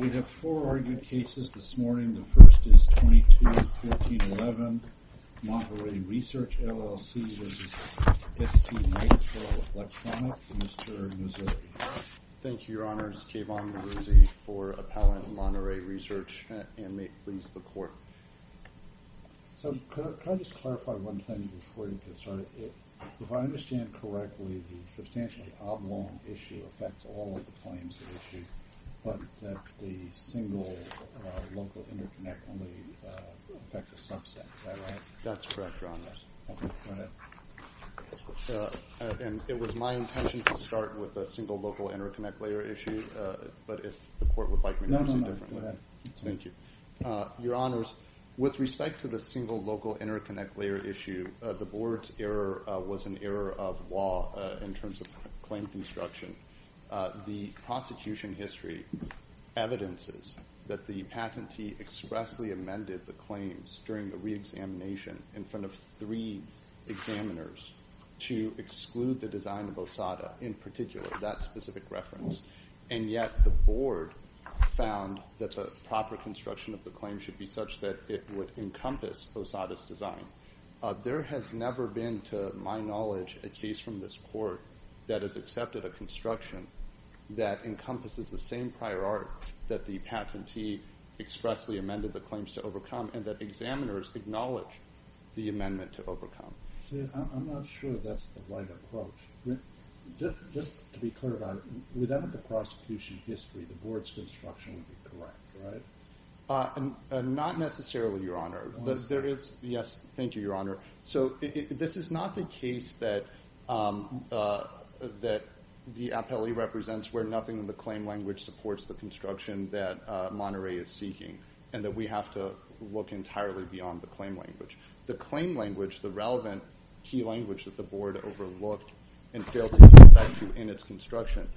We have four argued cases this morning. The first is 22-1411 Monterey Research, LLC v. STMicroelectronics. Mr. Mazzotti. Thank you, Your Honors. Kayvon Mazzotti for Appellant Monterey Research, and may it please the Court. So, could I just clarify one thing before we get started? If I understand correctly, the substantially oblong issue affects all of the claims at issue, but the single local interconnect only affects a subset, is that right? That's correct, Your Honors. Okay, go ahead. And it was my intention to start with the single local interconnect layer issue, but if the Court would like me to do something different. No, no, no, go ahead. Thank you. Your Honors, with respect to the single local interconnect layer issue, the Board's error was an error of law in terms of claim construction. The prosecution history evidences that the patentee expressly amended the claims during the reexamination in front of three examiners to exclude the design of OSADA, in particular, that specific reference. And yet, the Board found that the proper construction of the claim should be such that it would encompass OSADA's design. There has never been, to my knowledge, a case from this Court that has accepted a construction that encompasses the same prior art that the patentee expressly amended the claims to overcome, and that examiners acknowledge the amendment to overcome. See, I'm not sure that's the right approach. Just to be clear about it, without the prosecution history, the Board's construction would be correct, right? Not necessarily, Your Honor. Yes, thank you, Your Honor. So, this is not the case that the appellee represents where nothing in the claim language supports the construction that Monterey is seeking, and that we have to look entirely beyond the claim language. The claim language, the relevant key language that the Board overlooked and failed to get back to in its construction,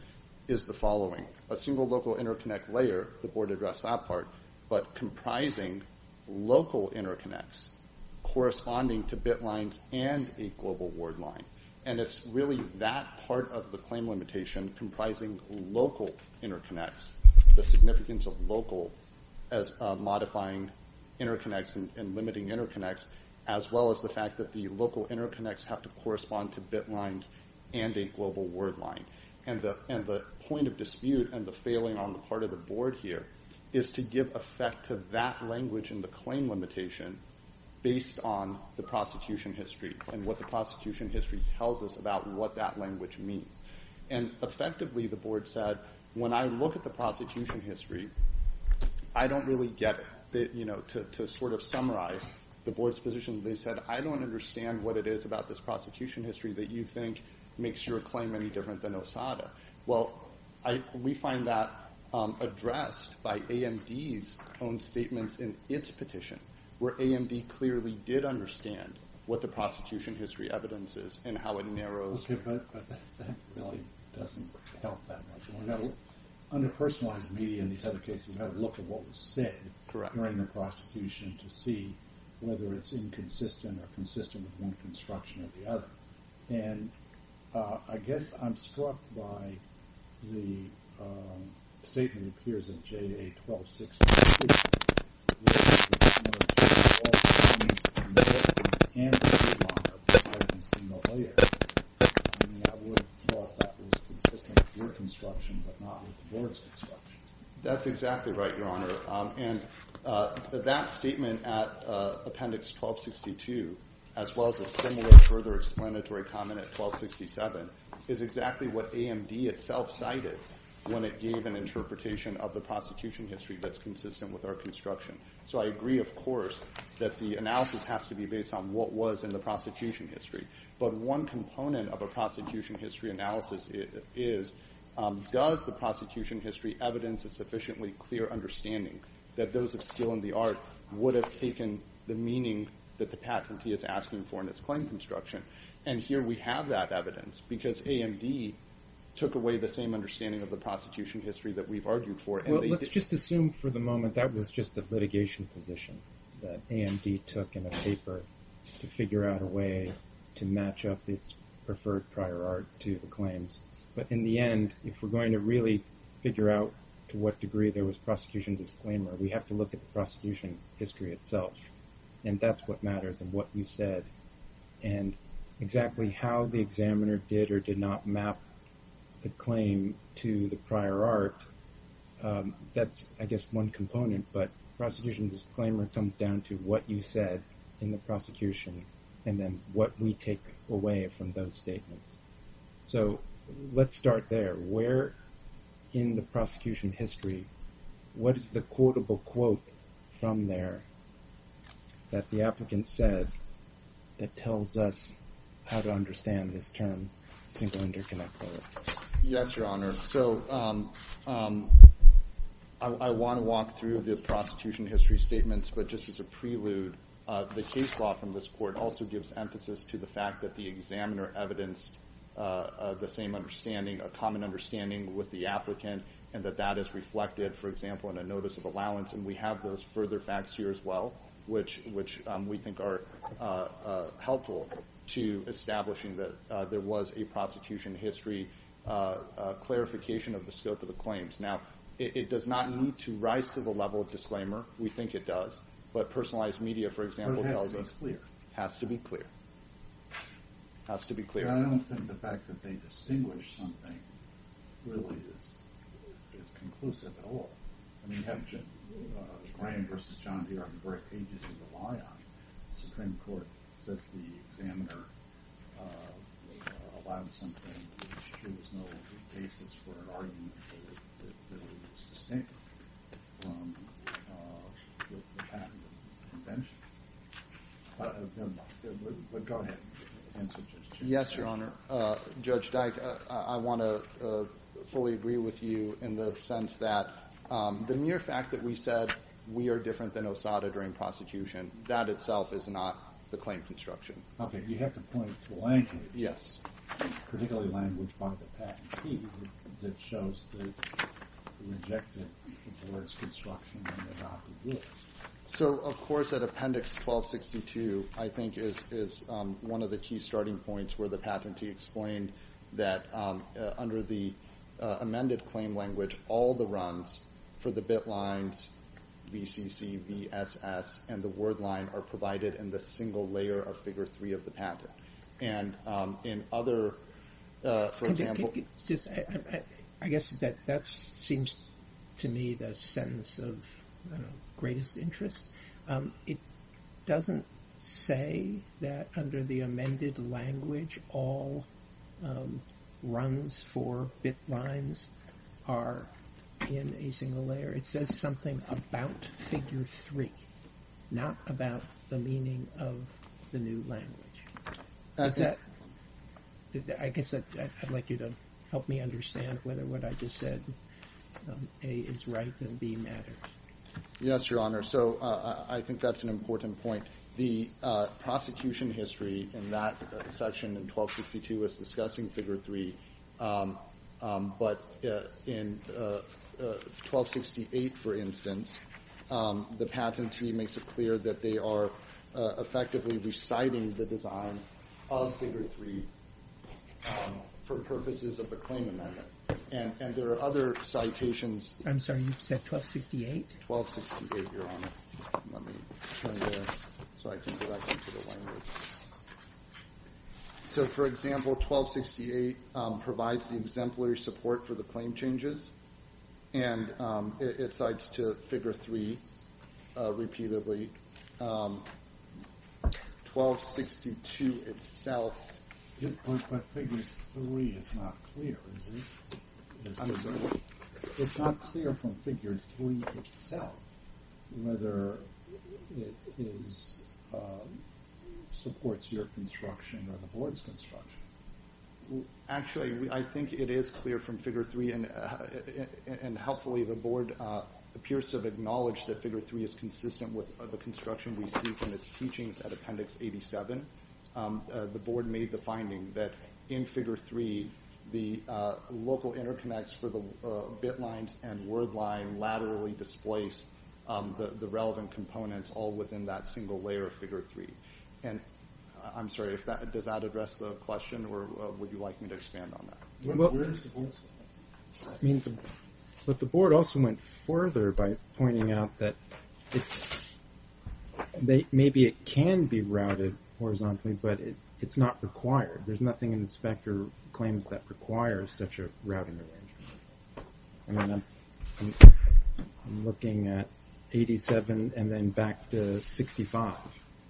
is the following. A single local interconnect layer, the Board addressed that part, but comprising local interconnects, corresponding to bit lines and a global word line. And it's really that part of the claim limitation comprising local interconnects, the significance of local as modifying interconnects and limiting interconnects, as well as the fact that the local interconnects have to correspond to bit lines and a global word line. And the point of dispute and the failing on the part of the Board here is to give effect to that language in the claim limitation based on the prosecution history and what the prosecution history tells us about what that language means. And effectively, the Board said, when I look at the prosecution history, I don't really get it. To sort of summarize the Board's position, they said, I don't understand what it is about this prosecution history that you think makes your claim any different than Osada. Well, we find that addressed by AMD's own statements in its petition, where AMD clearly did understand what the prosecution history evidence is and how it narrows. Okay, but that really doesn't help that much. Under personalized media in these other cases, you have to look at what was said during the prosecution to see whether it's inconsistent or consistent with one construction or the other. And I guess I'm struck by the statement that appears in JA-12603, which is that all the meetings and hearings and the remodeling are designed in single layers. I mean, I would have thought that was consistent with your construction, but not with the Board's construction. That's exactly right, Your Honor. And that statement at Appendix 1262, as well as a similar further explanatory comment at 1267, is exactly what AMD itself cited when it gave an interpretation of the prosecution history that's consistent with our construction. So I agree, of course, that the analysis has to be based on what was in the prosecution history. But one component of a prosecution history analysis is, does the prosecution history evidence a sufficiently clear understanding that those of skill in the art would have taken the meaning that the patentee is asking for in its claim construction? And here we have that evidence, because AMD took away the same understanding of the prosecution history that we've argued for. Well, let's just assume for the moment that was just a litigation position that AMD took in a paper to figure out a way to match up its preferred prior art to the claims. But in the end, if we're going to really figure out to what degree there was prosecution disclaimer, we have to look at the prosecution history itself. And that's what matters and what you said. And exactly how the examiner did or did not map the claim to the prior art, that's, I guess, one component. But prosecution disclaimer comes down to what you said in the prosecution and then what we take away from those statements. So let's start there. Where in the prosecution history, what is the quotable quote from there that the applicant said that tells us how to understand this term, single interconnect? Yes, Your Honor. So I want to walk through the prosecution history statements, but just as a prelude, the case law from this court also gives emphasis to the fact that the examiner evidenced the same understanding, a common understanding with the applicant and that that is reflected, for example, in a notice of allowance. And we have those further facts here as well, which we think are helpful to establishing that there was a prosecution history clarification of the scope of the claims. Now, it does not need to rise to the level of disclaimer. We think it does. But personalized media, for example, tells us... So it has to be clear. It has to be clear. It has to be clear. I don't think the fact that they distinguish something really is conclusive at all. I mean, you have Ryan v. John B. R. Brick, ages of the lion. The Supreme Court says the examiner allowed something, but there was no basis for an argument that it was distinct from the patent convention. But go ahead. Yes, Your Honor. Judge Dyke, I want to fully agree with you in the sense that the mere fact that we said we are different than OSADA during prosecution, that itself is not the claim construction. Okay. You have to point to language. Yes. Particularly language by the patentee that shows the rejected towards construction and without the rules. So, of course, that Appendix 1262, I think, is one of the key starting points where the patentee explained that under the amended claim language, all the runs for the bit lines, VCC, VSS, and the word line are provided in the single layer of Figure 3 of the patent. And in other, for example... I guess that seems to me the sentence of greatest interest. It doesn't say that under the amended language, all runs for bit lines are in a single layer. It says something about Figure 3, not about the meaning of the new language. I guess I'd like you to help me understand whether what I just said, A, is right and B, matters. Yes, Your Honor. So I think that's an important point. The prosecution history in that section in 1262 was discussing Figure 3, but in 1268, for instance, the patentee makes it clear that they are effectively reciting the design of Figure 3 for purposes of the claim amendment. And there are other citations... I'm sorry, you said 1268? 1268, Your Honor. Let me try to... So I can go back into the language. So, for example, 1268 provides the exemplary support for the claim changes and it cites to Figure 3 repeatedly. 1262 itself... But Figure 3 is not clear, is it? It's not clear from Figure 3 itself whether it supports your construction or the Board's construction. Actually, I think it is clear from Figure 3 and helpfully the Board appears to have acknowledged that Figure 3 is consistent with the construction we see from its teachings at Appendix 87. The Board made the finding that in Figure 3, the local interconnects for the bit lines and word line laterally displace the relevant components all within that single layer of Figure 3. I'm sorry, does that address the question or would you like me to expand on that? But the Board also went further by pointing out that maybe it can be routed horizontally, but it's not required. There's nothing in the specter claims that requires such a routing arrangement. I'm looking at 87 and then back to 65.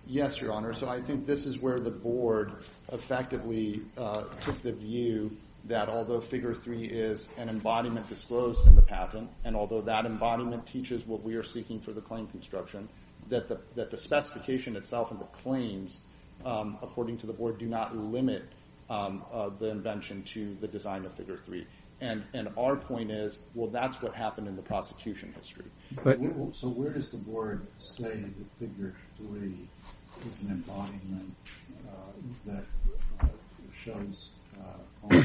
Yes, Your Honor. So I think this is where the Board effectively took the view that although Figure 3 is an embodiment disclosed in the patent and although that embodiment teaches what we are seeking for the claim construction, that the specification itself and the claims, according to the Board, do not limit the invention to the design of Figure 3. And our point is, well, that's what happened in the prosecution history. So where does the Board say that Figure 3 is an embodiment that shows all the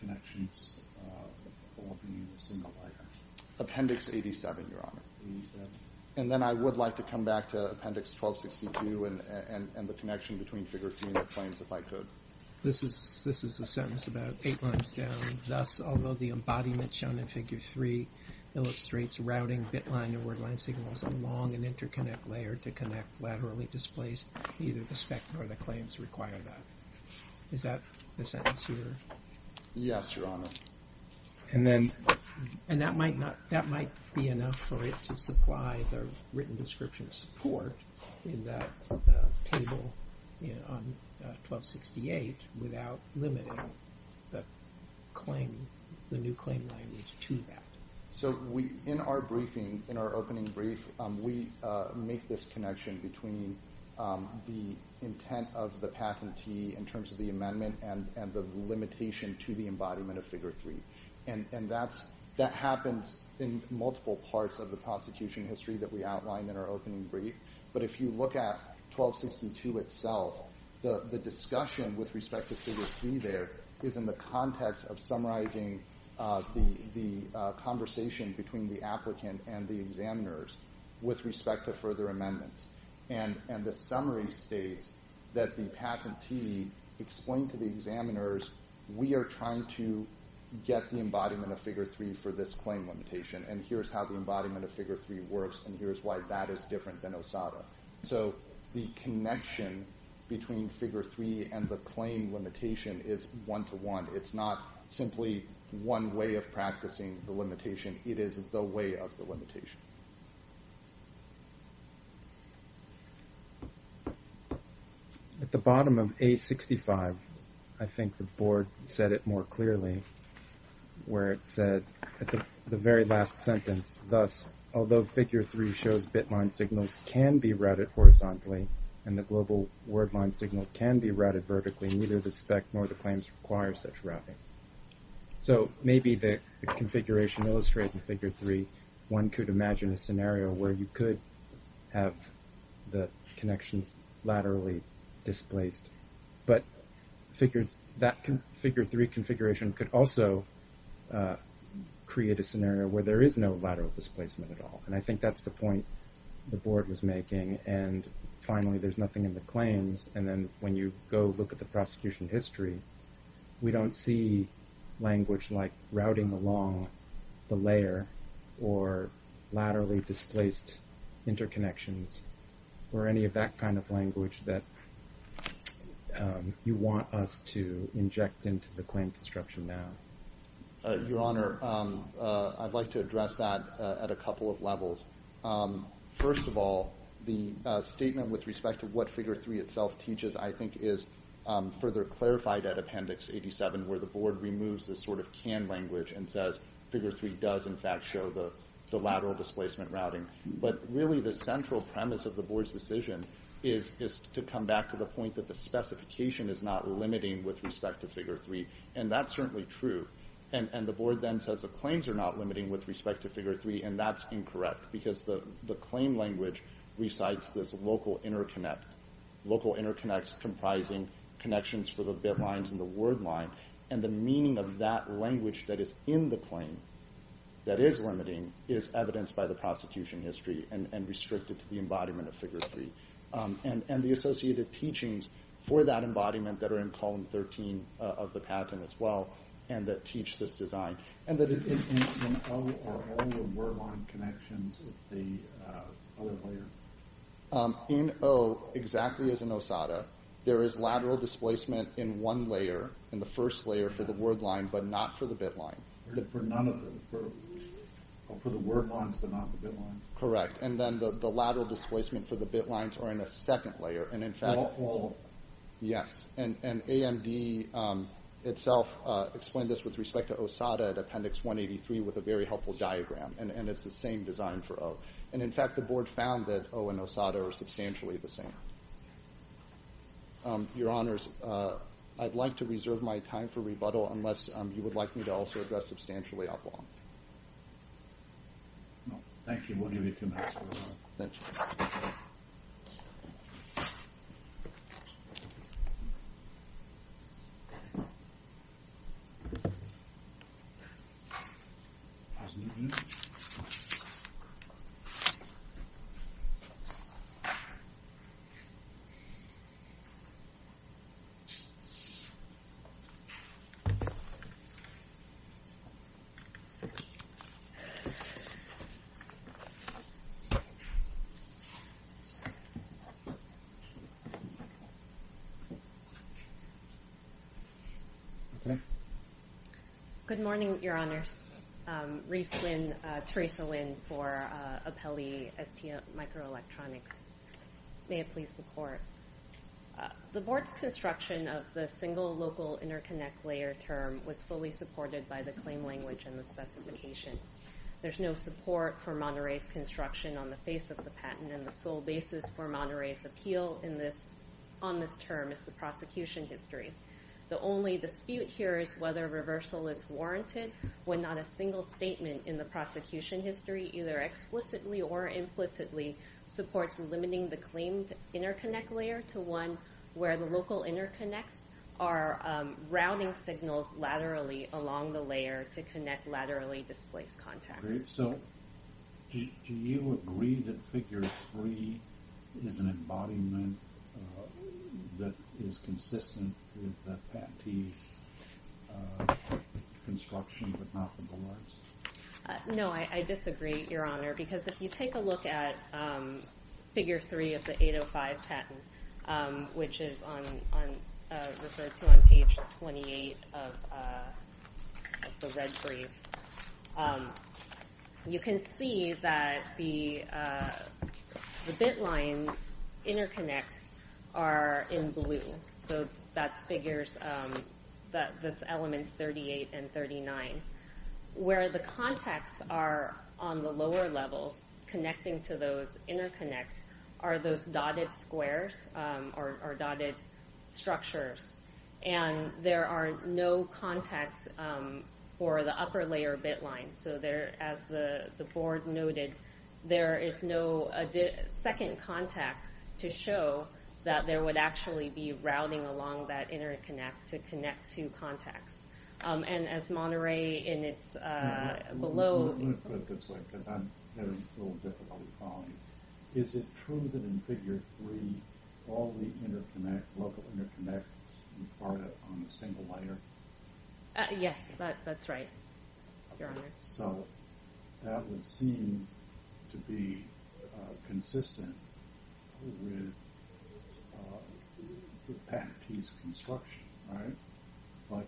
connections all within a single layer? Appendix 87, Your Honor. And then I would like to come back to Appendix 1262 and the connection between Figure 3 and the claims if I could. This is a sentence about eight lines down. Thus, although the embodiment shown in Figure 3 illustrates routing bit line and word line signals along an interconnect layer to connect laterally displaced, neither the spec nor the claims require that. Is that the sentence here? Yes, Your Honor. And that might be enough for it to supply the written description support in that table on 1268 without limiting the new claim language to that. So in our briefing, in our opening brief, we make this connection between the intent of the patentee in terms of the amendment and the limitation to the embodiment of Figure 3. And that happens in multiple parts of the prosecution history that we outlined in our opening brief. But if you look at 1262 itself, the discussion with respect to Figure 3 there is in the context of summarizing the conversation between the applicant and the examiners with respect to further amendments. And the summary states that the patentee explained to the examiners, we are trying to get the embodiment of Figure 3 for this claim limitation. And here's how the embodiment of Figure 3 works. And here's why that is different than OSADA. So the connection between Figure 3 and the claim limitation is one-to-one. It's not simply one way of practicing the limitation. It is the way of the limitation. At the bottom of A65, I think the Board said it more clearly, where it said at the very last sentence, thus, although Figure 3 shows bit-line signals can be routed horizontally, and the global word-line signal can be routed vertically, neither the spec nor the claims require such routing. So maybe the configuration illustrated in Figure 3, one could imagine a scenario where you could have the connections laterally displaced. But that Figure 3 configuration could also create a scenario where there is no lateral displacement at all. And I think that's the point the Board was making. And finally, there's nothing in the claims. And then when you go look at the prosecution history, we don't see language like routing along the layer or laterally displaced interconnections or any of that kind of language that you want us to inject into the claim construction now. Your Honor, I'd like to address that at a couple of levels. First of all, the statement with respect to what Figure 3 itself teaches, I think is further clarified at Appendix 87, where the Board removes this sort of canned language and says, Figure 3 does in fact show the lateral displacement routing. But really the central premise of the Board's decision is to come back to the point that the specification is not limiting with respect to Figure 3. And that's certainly true. And the Board then says the claims are not limiting with respect to Figure 3, and that's incorrect because the claim language recites this local interconnect. Local interconnects comprising connections for the bit lines and the word line. And the meaning of that language that is in the claim that is limiting is evidenced by the prosecution history and restricted to the embodiment of Figure 3. And the associated teachings for that embodiment that are in Column 13 of the patent as well, and that teach this design. And in O are all the word line connections of the other layer? In O, exactly as in OSADA, there is lateral displacement in one layer, in the first layer for the word line, but not for the bit line. For none of them? For the word lines, but not the bit lines? Correct. And then the lateral displacement for the bit lines are in a second layer. And in fact... All of them? Yes. And AMD itself explained this with respect to OSADA at Appendix 183 with a very helpful diagram. And it's the same design for O. And in fact the Board found that O and OSADA are substantially the same. Your Honors, I'd like to reserve my time for rebuttal unless you would like me to also address substantially our bond. Thank you. We'll give you two minutes for your honor. Thank you. Okay. Good morning, Your Honors. Reese Wynn, Teresa Wynn for Apelli STL Microelectronics. May it please the Court. The Board's construction of the single local interconnect layer term was fully supported by the claim language and the specification. There's no support for Monterey's construction on the face of the patent and the sole basis for Monterey's appeal on this term is the prosecution history. The only dispute here is whether reversal is warranted when not a single statement in the prosecution history, either explicitly or implicitly, supports limiting the claimed interconnect layer to one where the local interconnects are routing signals laterally along the layer to connect laterally displaced contacts. So, do you agree that Figure 3 is an embodiment that is consistent with the patentee's construction but not the Board's? No, I disagree, Your Honor. Because if you take a look at Figure 3 of the 805 patent, which is referred to on page 28 of the red brief, you can see that the bit line interconnects are in blue. So, that's figures, that's elements 38 and 39. Where the contacts are on the lower levels connecting to those interconnects are those dotted squares or dotted structures. And there are no contacts for the upper layer bit lines. So, as the Board noted, there is no second contact to show that there would actually be routing along that interconnect to connect two contacts. And as Monterey in its below... Let me put it this way, because I'm having a little difficulty following. Is it true that in Figure 3 all the local interconnects are part of a single layer? Yes, that's right, Your Honor. So, that would seem to be consistent with the patentee's construction, right? But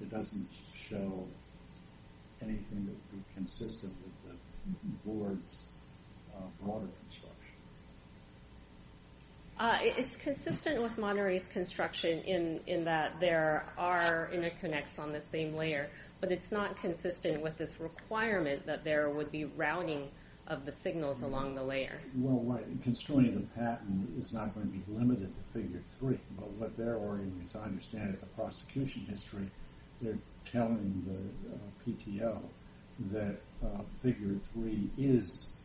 it doesn't show anything that would be consistent with the Board's broader construction? It's consistent with Monterey's construction in that there are interconnects on the same layer. But it's not consistent with this requirement that there would be routing of the signals along the layer. Well, construing the patent is not going to be limited to Figure 3. But what they're arguing, as I understand it, in the prosecution history, they're telling the PTO that Figure 3 is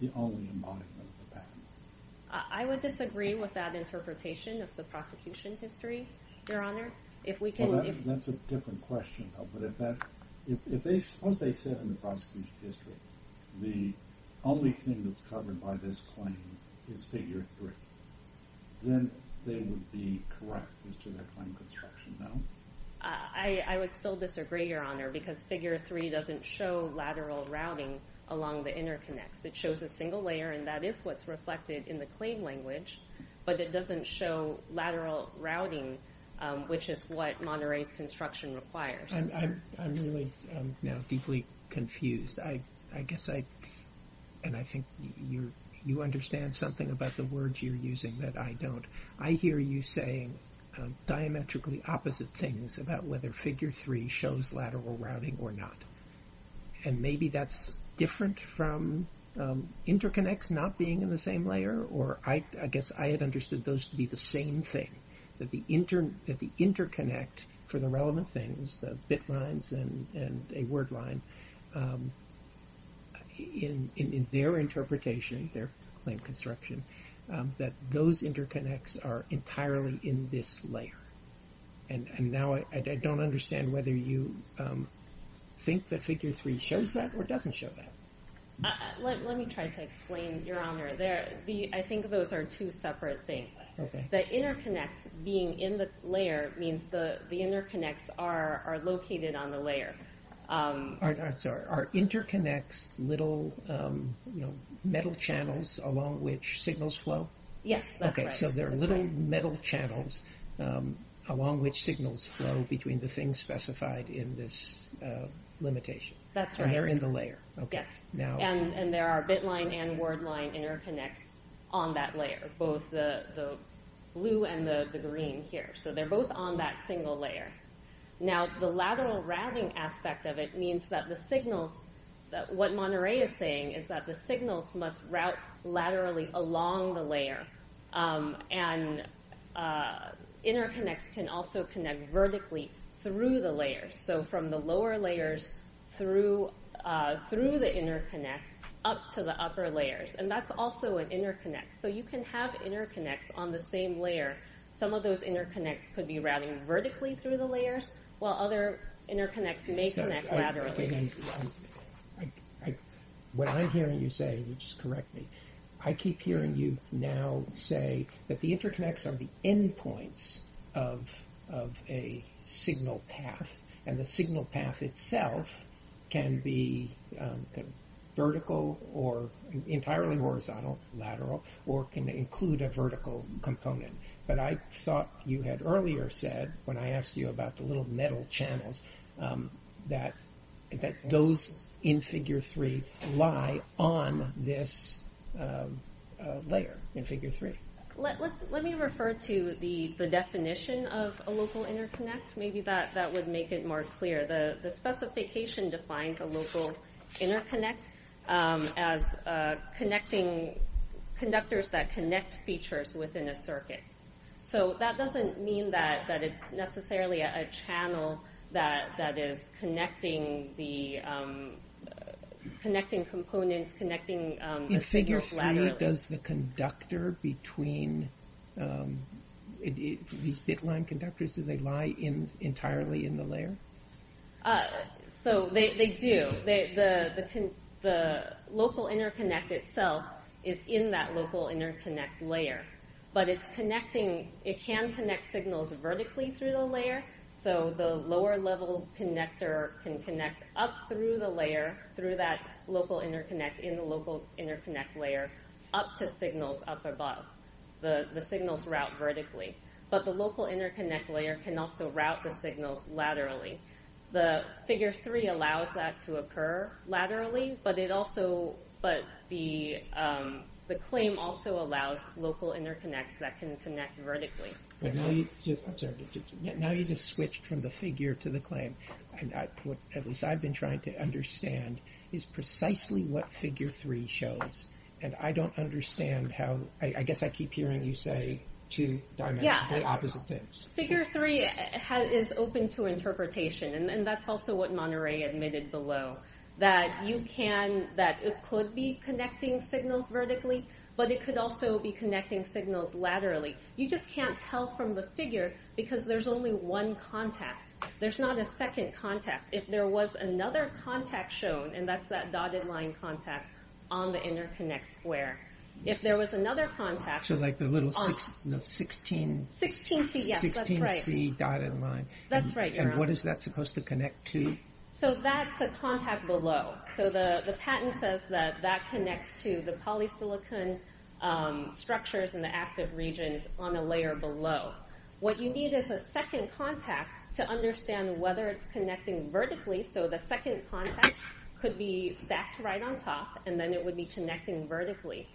the only embodiment of the patent. I would disagree with that interpretation of the prosecution history, Your Honor. That's a different question, though. But suppose they said in the prosecution history the only thing that's covered by this claim is Figure 3. Then they would be correct as to their claim construction, no? I would still disagree, Your Honor, because Figure 3 doesn't show lateral routing along the interconnects. It shows a single layer, and that is what's reflected in the claim language. But it doesn't show lateral routing, which is what Monterey's construction requires. I'm really now deeply confused. I guess I... And I think you understand something about the words you're using that I don't. I hear you saying diametrically opposite things about whether Figure 3 shows lateral routing or not. And maybe that's different from interconnects not being in the same layer, or I guess I had understood those to be the same thing, that the interconnect for the relevant things, the bit lines and a word line, in their interpretation, their claim construction, that those interconnects are entirely in this layer. And now I don't understand whether you think that Figure 3 shows that or doesn't show that. Let me try to explain, Your Honor. I think those are two separate things. The interconnects being in the layer means the interconnects are located on the layer. Are interconnects little metal channels along which signals flow? Yes, that's right. So there are little metal channels along which signals flow between the things specified in this limitation. That's right. And they're in the layer. Yes. And there are bit line and word line interconnects on that layer, both the blue and the green here. So they're both on that single layer. Now, the lateral routing aspect of it means that the signals, what Monterey is saying, is that the signals must route laterally along the layer. And interconnects can also connect vertically through the layer. So from the lower layers through the interconnect, up to the upper layers. And that's also an interconnect. So you can have interconnects on the same layer. Some of those interconnects could be routing vertically through the layers, while other interconnects may connect laterally. What I'm hearing you say, just correct me, I keep hearing you now say that the interconnects are the endpoints of a signal path. And the signal path itself can be vertical or entirely horizontal, lateral, or can include a vertical component. But I thought you had earlier said, when I asked you about the little metal channels, that those in Figure 3 lie on this layer in Figure 3. Let me refer to the definition of a local interconnect. Maybe that would make it more clear. The specification defines a local interconnect as conductors that connect features within a circuit. So that doesn't mean that it's necessarily a channel that is connecting components, connecting figures laterally. In Figure 3, does the conductor between these bit line conductors, do they lie entirely in the layer? They do. The local interconnect itself is in that local interconnect layer. But it can connect signals vertically through the layer. So the lower level connector can connect up through the layer, through that local interconnect in the local interconnect layer, up to signals up above. The signals route vertically. But the local interconnect layer can also route the signals laterally. The Figure 3 allows that to occur laterally, but the claim also allows local interconnects that can connect vertically. Now you just switched from the figure to the claim. What I've been trying to understand is precisely what Figure 3 shows. And I don't understand how... I guess I keep hearing you say two opposite things. Figure 3 is open to interpretation. And that's also what Monterey admitted below. That it could be connecting signals vertically, but it could also be connecting signals laterally. You just can't tell from the figure because there's only one contact. There's not a second contact. If there was another contact shown, and that's that dotted line contact on the interconnect square. If there was another contact... So like the little 16C dotted line. That's right. And what is that supposed to connect to? So that's the contact below. So the patent says that that connects to the polysilicon structures and the active regions on the layer below. What you need is a second contact to understand whether it's connecting vertically. So the second contact could be stacked right on top and then it would be connecting vertically.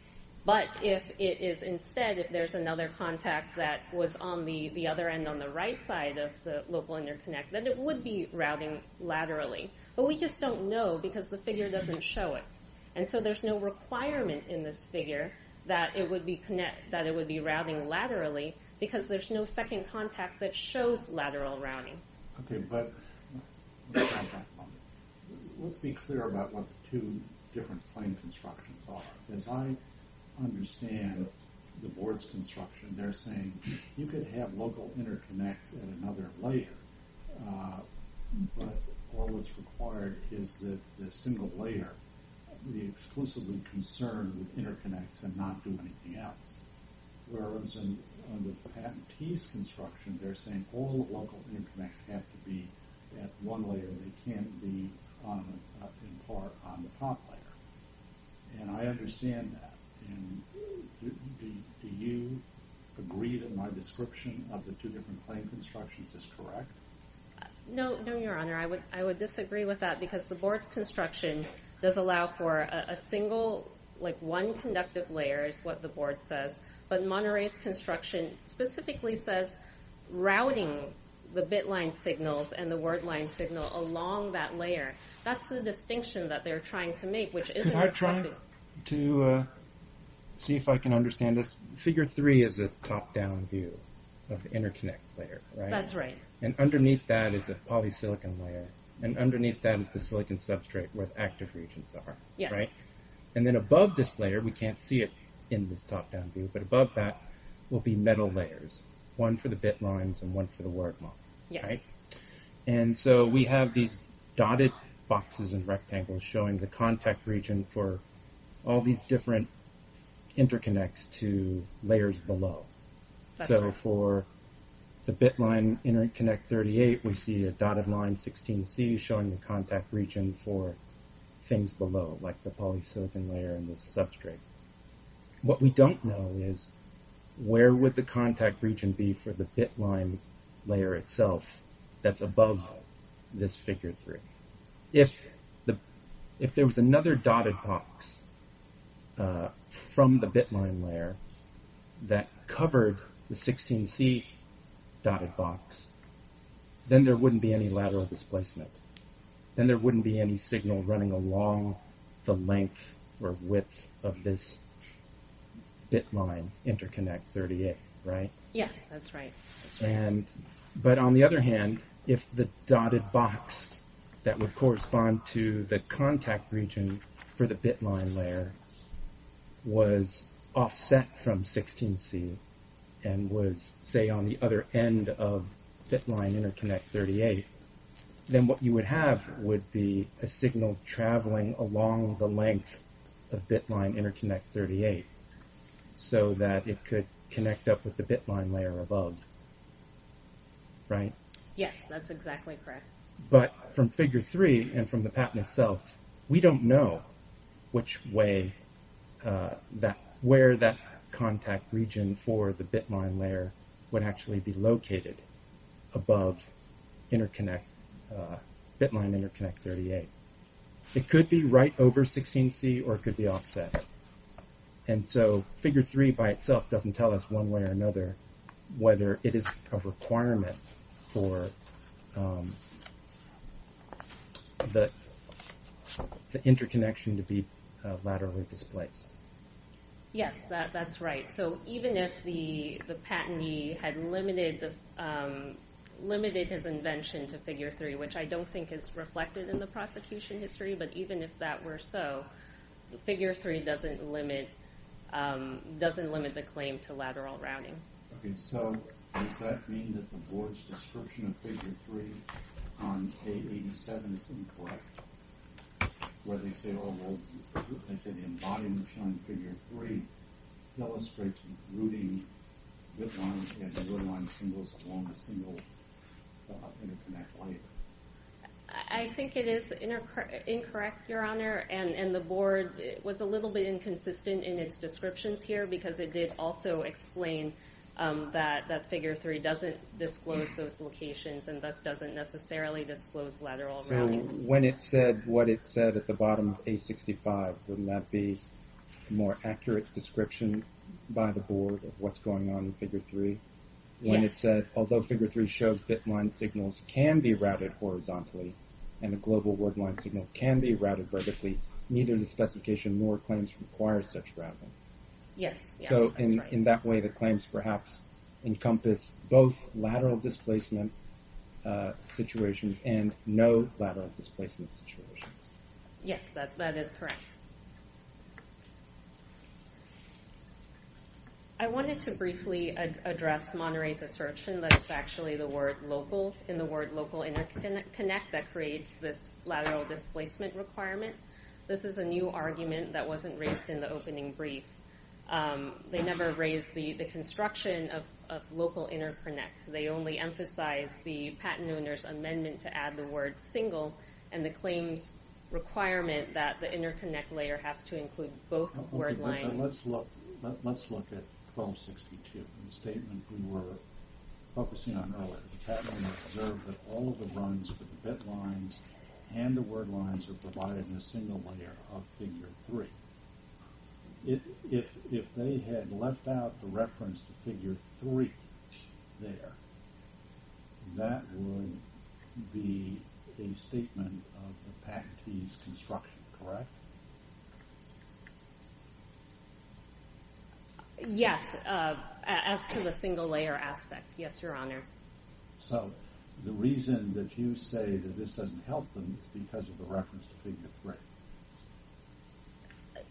But if it is instead, if there's another contact that was on the other end on the right side of the local interconnect, then it would be routing laterally. But we just don't know because the figure doesn't show it. And so there's no requirement in this figure that it would be routing laterally because there's no second contact that shows lateral routing. Okay, but let's be clear about what the two different plane constructions are. As I understand the board's construction, they're saying you could have local interconnects at another layer, but all that's required is that the single layer be exclusively concerned with interconnects and not do anything else. Whereas in the patentee's construction, they're saying all local interconnects have to be at one layer. They can't be in part on the top layer. And I understand that. Do you agree that my description of the two different plane constructions is correct? No, your honor. I would disagree with that because the board's construction does allow for a single, like one conductive layer is what the board says. But Monterey's construction specifically says routing the bit line signals and the word line signal along that layer. That's the distinction that they're trying to make. Can I try to see if I can understand this? Figure three is a top-down view of the interconnect layer, right? That's right. And underneath that is a polysilicon layer. And underneath that is the silicon substrate where the active regions are. Yes. And then above this layer, we can't see it in this top-down view, but above that will be metal layers. One for the bit lines and one for the word line. And so we have these dotted boxes and rectangles showing the contact region for all these different interconnects to layers below. So for the bit line interconnect 38, we see a dotted line 16C showing the contact region for things below, like the polysilicon layer and the substrate. What we don't know is where would the contact region be for the bit line layer itself that's above this figure three? If there was another dotted box from the bit line layer that covered the 16C dotted box, then there wouldn't be any lateral displacement. Then there wouldn't be any signal running along the length or width of this bit line interconnect 38, right? Yes, that's right. But on the other hand, if the dotted box that would correspond to the contact region for the bit line layer was offset from 16C and was, say, on the other end of bit line interconnect 38, then what you would have would be a signal traveling along the length of bit line interconnect 38 so that it could connect up with the bit line layer above, right? Yes, that's exactly correct. But from figure three and from the patent itself, we don't know which way, where that contact region for the bit line layer would actually be located above bit line interconnect 38. It could be right over 16C or it could be offset. And so figure three by itself doesn't tell us one way or another whether it is a requirement for the interconnection to be laterally displaced. Yes, that's right. So even if the patentee had limited his invention to figure three, which I don't think is reflected in the prosecution history, but even if that were so, figure three doesn't limit the claim to lateral rounding. Okay, so does that mean that the board's description of figure three on page 87 is incorrect, where they say, as I said, the embodiment showing figure three illustrates routing bit line and bit line signals along the single interconnect layer? I think it is incorrect, Your Honor, and the board was a little bit inconsistent in its descriptions here because it did also explain that figure three doesn't disclose those locations and thus doesn't necessarily disclose lateral rounding. So when it said what it said at the bottom of page 65, wouldn't that be a more accurate description by the board of what's going on in figure three? Yes. When it said, although figure three shows bit line signals can be routed horizontally and a global word line signal can be routed vertically, neither the specification nor claims require such routing. Yes, that's right. So in that way, the claims perhaps encompass both lateral displacement situations and no lateral displacement situations. Yes, that is correct. I wanted to briefly address Monterey's assertion that it's actually the word local in the word local interconnect that creates this lateral displacement requirement. This is a new argument that wasn't raised in the opening brief. They never raised the construction of local interconnect. They only emphasized the patent owner's amendment to add the word single and the claims requirement that the interconnect layer has to include both word lines. Let's look at 1262 in the statement we were focusing on earlier. The patent owner observed that all of the runs for the bit lines and the word lines are provided in a single layer of figure three. If they had left out the reference to figure three there, that would be a statement of the patentee's construction, correct? Yes, as to the single layer aspect, yes, Your Honor. So the reason that you say that this doesn't help them is because of the reference to figure three.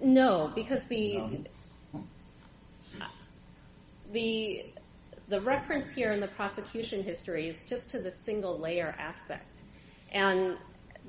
No, because the reference here in the prosecution history is just to the single layer aspect.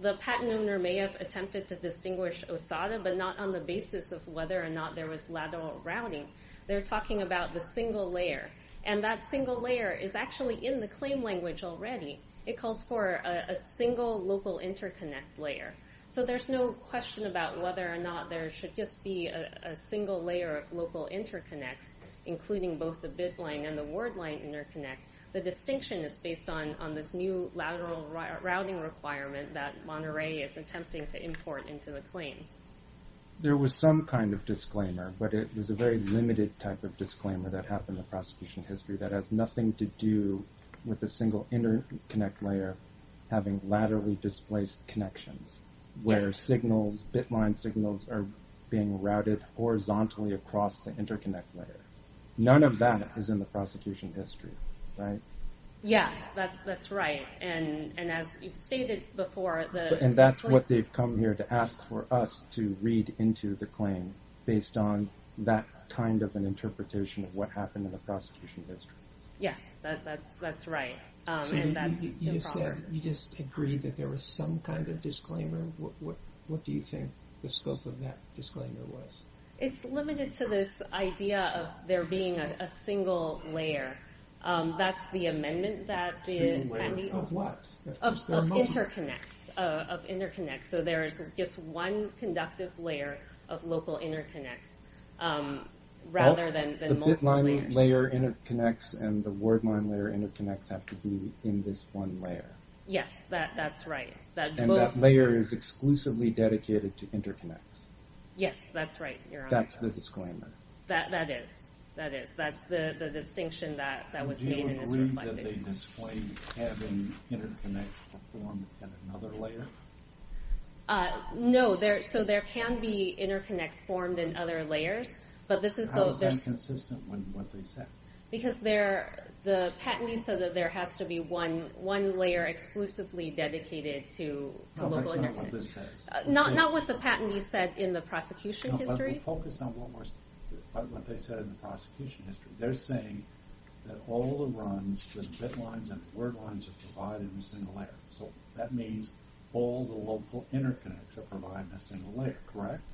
The patent owner may have attempted to distinguish Osada, but not on the basis of whether or not there was lateral rounding. They're talking about the single layer. That single layer is actually in the claim language already. It calls for a single local interconnect layer. So there's no question about whether or not there should just be a single layer of local interconnects, including both the bit line and the word line interconnect. The distinction is based on this new lateral rounding requirement that Monterey is attempting to import into the claims. There was some kind of disclaimer, but it was a very limited type of disclaimer that happened in the prosecution history that has nothing to do with the single interconnect layer having laterally displaced connections where bit line signals are being routed horizontally across the interconnect layer. None of that is in the prosecution history, right? Yes, that's right. And as you've stated before... And that's what they've come here to ask for us to read into the claim based on that kind of an interpretation of what happened in the prosecution history. Yes, that's right. You just agreed that there was some kind of disclaimer. What do you think the scope of that disclaimer was? It's limited to this idea of there being a single layer. That's the amendment that the... Of what? Of interconnects. So there's just one conductive layer of local interconnects rather than multiple layers. The bit line layer interconnects and the word line layer interconnects have to be in this one layer. Yes, that's right. And that layer is exclusively dedicated to interconnects. Yes, that's right. That's the disclaimer. That is. That's the distinction that was made in this reply. Do you agree that they displayed having interconnects performed in another layer? No. So there can be interconnects formed in other layers, How is that inconsistent with what they said? Because the patentee said that there has to be one layer exclusively dedicated to local interconnects. No, that's not what this says. Not what the patentee said in the prosecution history? No, but we'll focus on what they said in the prosecution history. They're saying that all the runs, the bit lines and the word lines are provided in a single layer. So that means all the local interconnects are provided in a single layer, correct?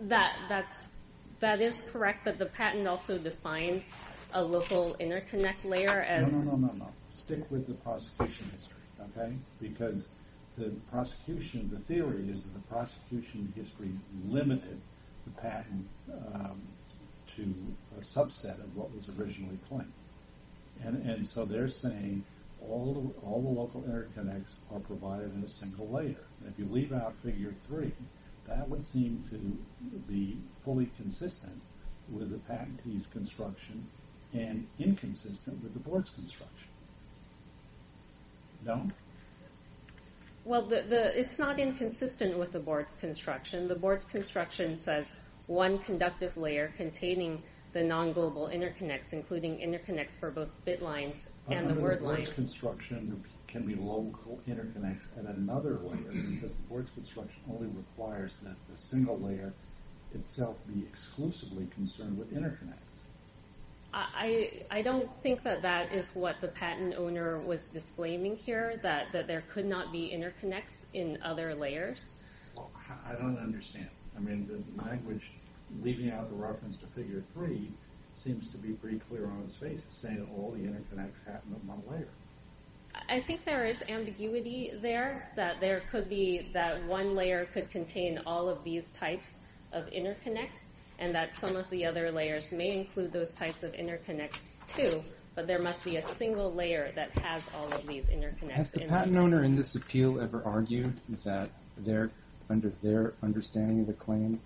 That is correct, but the patent also defines a local interconnect layer as... No, no, no, no, no. Stick with the prosecution history, okay? Because the prosecution, the theory is that the prosecution history limited the patent to a subset of what was originally claimed. And so they're saying all the local interconnects are provided in a single layer. If you leave out figure three, that would seem to be fully consistent with the patentee's construction and inconsistent with the board's construction. No? Well, it's not inconsistent with the board's construction. The board's construction says one conductive layer containing the non-global interconnects, including interconnects for both bit lines and the word lines. The board's construction can be local interconnects at another layer because the board's construction only requires that the single layer itself be exclusively concerned with interconnects. I don't think that that is what the patent owner was disclaiming here, that there could not be interconnects in other layers. I don't understand. I mean, the language leaving out the reference to figure three seems to be pretty clear on its face, saying, oh, the interconnects happen on one layer. I think there is ambiguity there, that one layer could contain all of these types of interconnects, and that some of the other layers may include those types of interconnects, too. But there must be a single layer that has all of these interconnects. Has the patent owner in this appeal ever argued that under their understanding of the claim,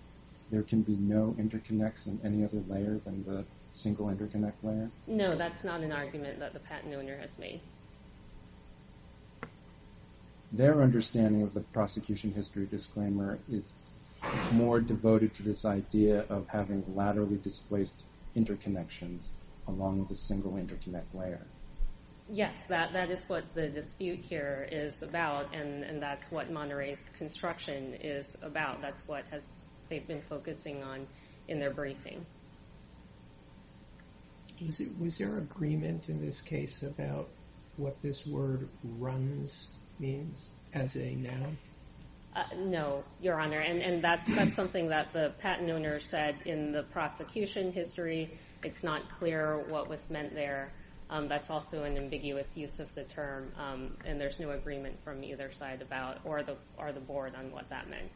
there can be no interconnects in any other layer than the single interconnect layer? No, that's not an argument that the patent owner has made. Their understanding of the prosecution history disclaimer is more devoted to this idea of having laterally displaced interconnections along the single interconnect layer. Yes, that is what the dispute here is about, and that's what Monterey's construction is about. That's what they've been focusing on in their briefing. Was there agreement in this case about what this word runs means as a noun? No, Your Honor, and that's something that the patent owner said in the prosecution history. It's not clear what was meant there. That's also an ambiguous use of the term, and there's no agreement from either side about, or the board on what that meant.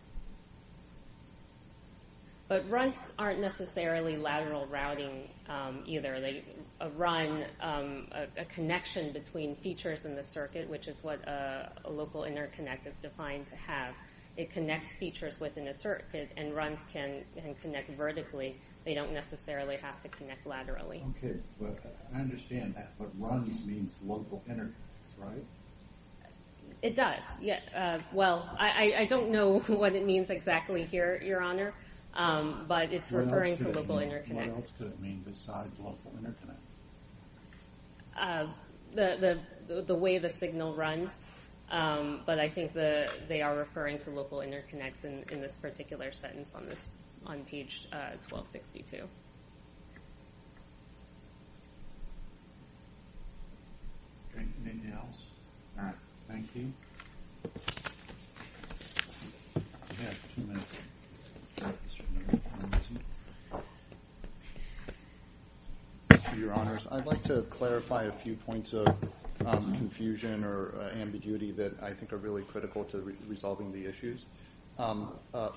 But runs aren't necessarily lateral routing either. A run, a connection between features in the circuit, which is what a local interconnect is defined to have, it connects features within a circuit, and runs can connect vertically. They don't necessarily have to connect laterally. Okay, but I understand that, but runs means local interconnects, right? It does. I don't know what it means exactly here, Your Honor, but it's referring to local interconnects. What else could it mean besides local interconnects? The way the signal runs, but I think they are referring to local interconnects in this particular sentence on page 1262. Anything else? All right, thank you. Mr. Your Honors, I'd like to clarify a few points of confusion or ambiguity that I think are really critical to resolving the issues.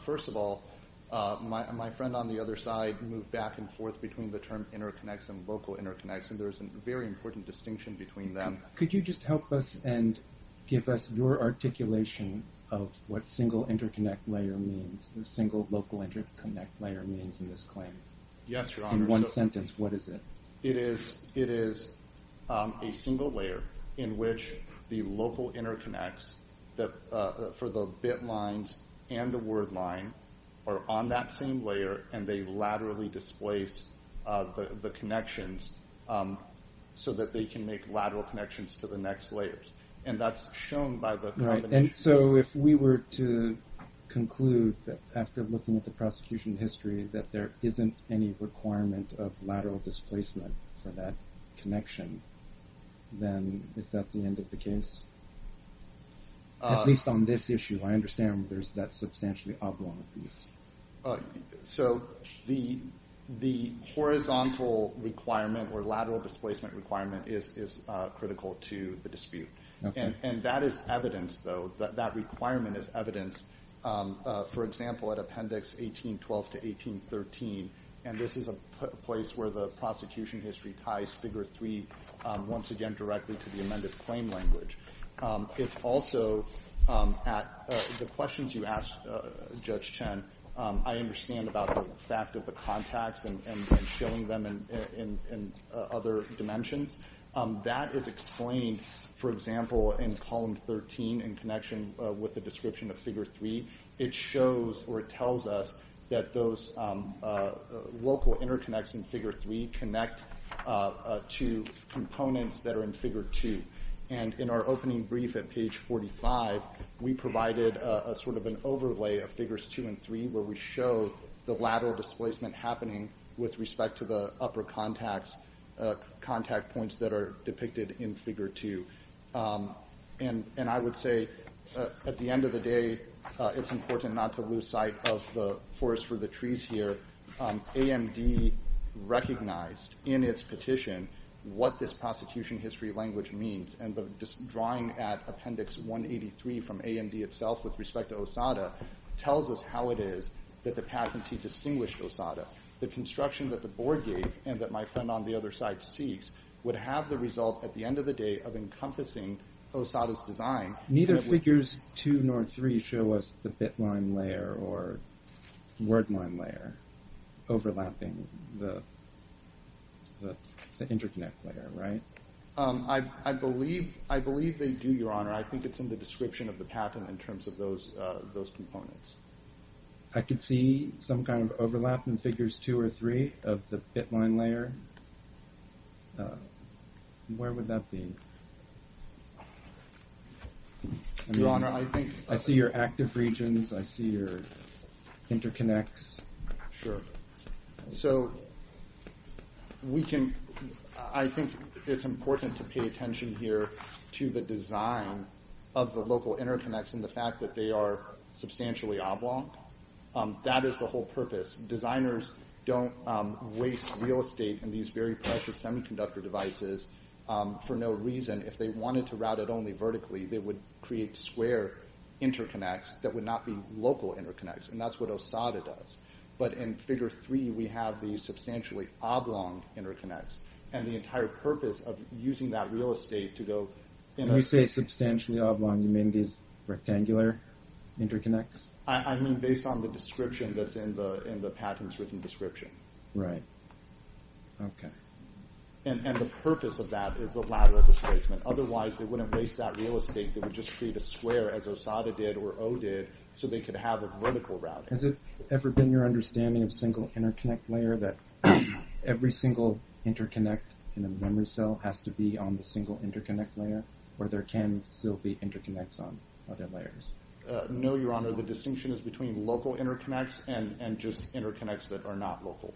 First of all, my friend on the other side moved back and forth between the term interconnects and local interconnects, and there's a very important distinction between them. Could you just help us and give us your articulation of what single local interconnect layer means in this claim in one sentence? It is a single layer in which the local interconnects for the bit lines and the word line are on that same layer and they laterally displace the connections so that they can make lateral connections to the next layers. If we were to conclude after looking at the prosecution history that there isn't any requirement of lateral displacement for that connection, then is that the end of the case? At least on this issue, I understand there's that substantially oblong piece. The horizontal requirement or lateral displacement requirement is critical to the dispute. That requirement is evidenced for example at Appendix 1812 to 1813, and this is a place where the prosecution history ties Figure 3 once again directly to the amended claim language. The questions you asked, Judge Chen, I understand about the fact of the contacts and showing them in other dimensions. That is explained for example in Column 13 in connection with the description of Figure 3. It shows or it tells us that those local interconnects in Figure 3 connect to components that are in Figure 2. In our opening brief at page 45, we provided an overlay of Figures 2 and 3 where we show the lateral displacement happening with respect to the upper contact points that are depicted in Figure 2. I would say at the end of the day, it's important not to lose sight of the forest for the trees here. AMD recognized in its petition what this prosecution history language means. Drawing at Appendix 183 from AMD itself with respect to OSADA tells us how it is that the patentee distinguished OSADA. The construction that the board gave and that my friend on the other side seeks would have the result at the end of the day of encompassing OSADA's design. Neither Figures 2 nor 3 show us the bit line layer or word line layer overlapping the interconnect layer, right? I believe they do, Your Honor. I think it's in the description of the patent in terms of those components. I could see some kind of overlap in Figures 2 or 3 of the bit line layer. Where would that be? Your Honor, I see your active regions. I see your interconnects. Sure. I think it's important to pay attention here to the design of the local interconnects and the fact that they are substantially oblong. That is the whole purpose. Designers don't waste real estate in these very precious semiconductor devices for no reason. If they wanted to route it only vertically, they would create square interconnects that would not be local interconnects. That's what OSADA does. But in Figure 3, we have these substantially oblong interconnects. The entire purpose of using that real estate... When you say substantially oblong, you mean these rectangular interconnects? I mean based on the description that's in the patent's written description. The purpose of that is the ladder of displacement. Otherwise, they wouldn't waste that real estate. They would just create a square, as OSADA did or O did, so they could have a vertical routing. Has it ever been your understanding of single interconnect layer that every single interconnect in a memory cell has to be on the single interconnect layer or there can still be interconnects on other layers? No, Your Honor. The distinction is between local interconnects and just interconnects that are not local.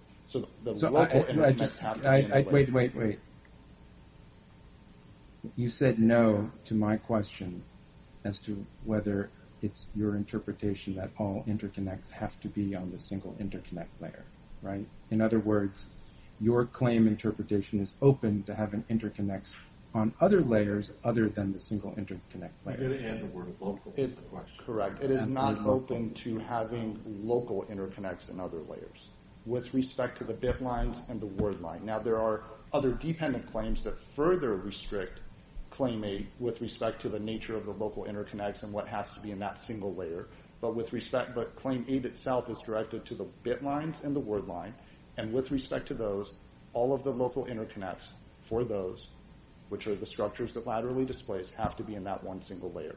Wait, wait, wait. You said no to my question as to whether it's your interpretation that all interconnects have to be on the single interconnect layer. In other words, your claim interpretation is open to having interconnects on other layers other than the single interconnect layer. Correct. It is not open to having local interconnects on other layers with respect to the bit lines and the word line. Now, there are other dependent claims that further restrict Claim 8 with respect to the nature of the local interconnects and what has to be in that single layer, but Claim 8 itself is directed to the bit lines and the word line and with respect to those, all of the local interconnects for those which are the structures that laterally displace have to be in that one single layer.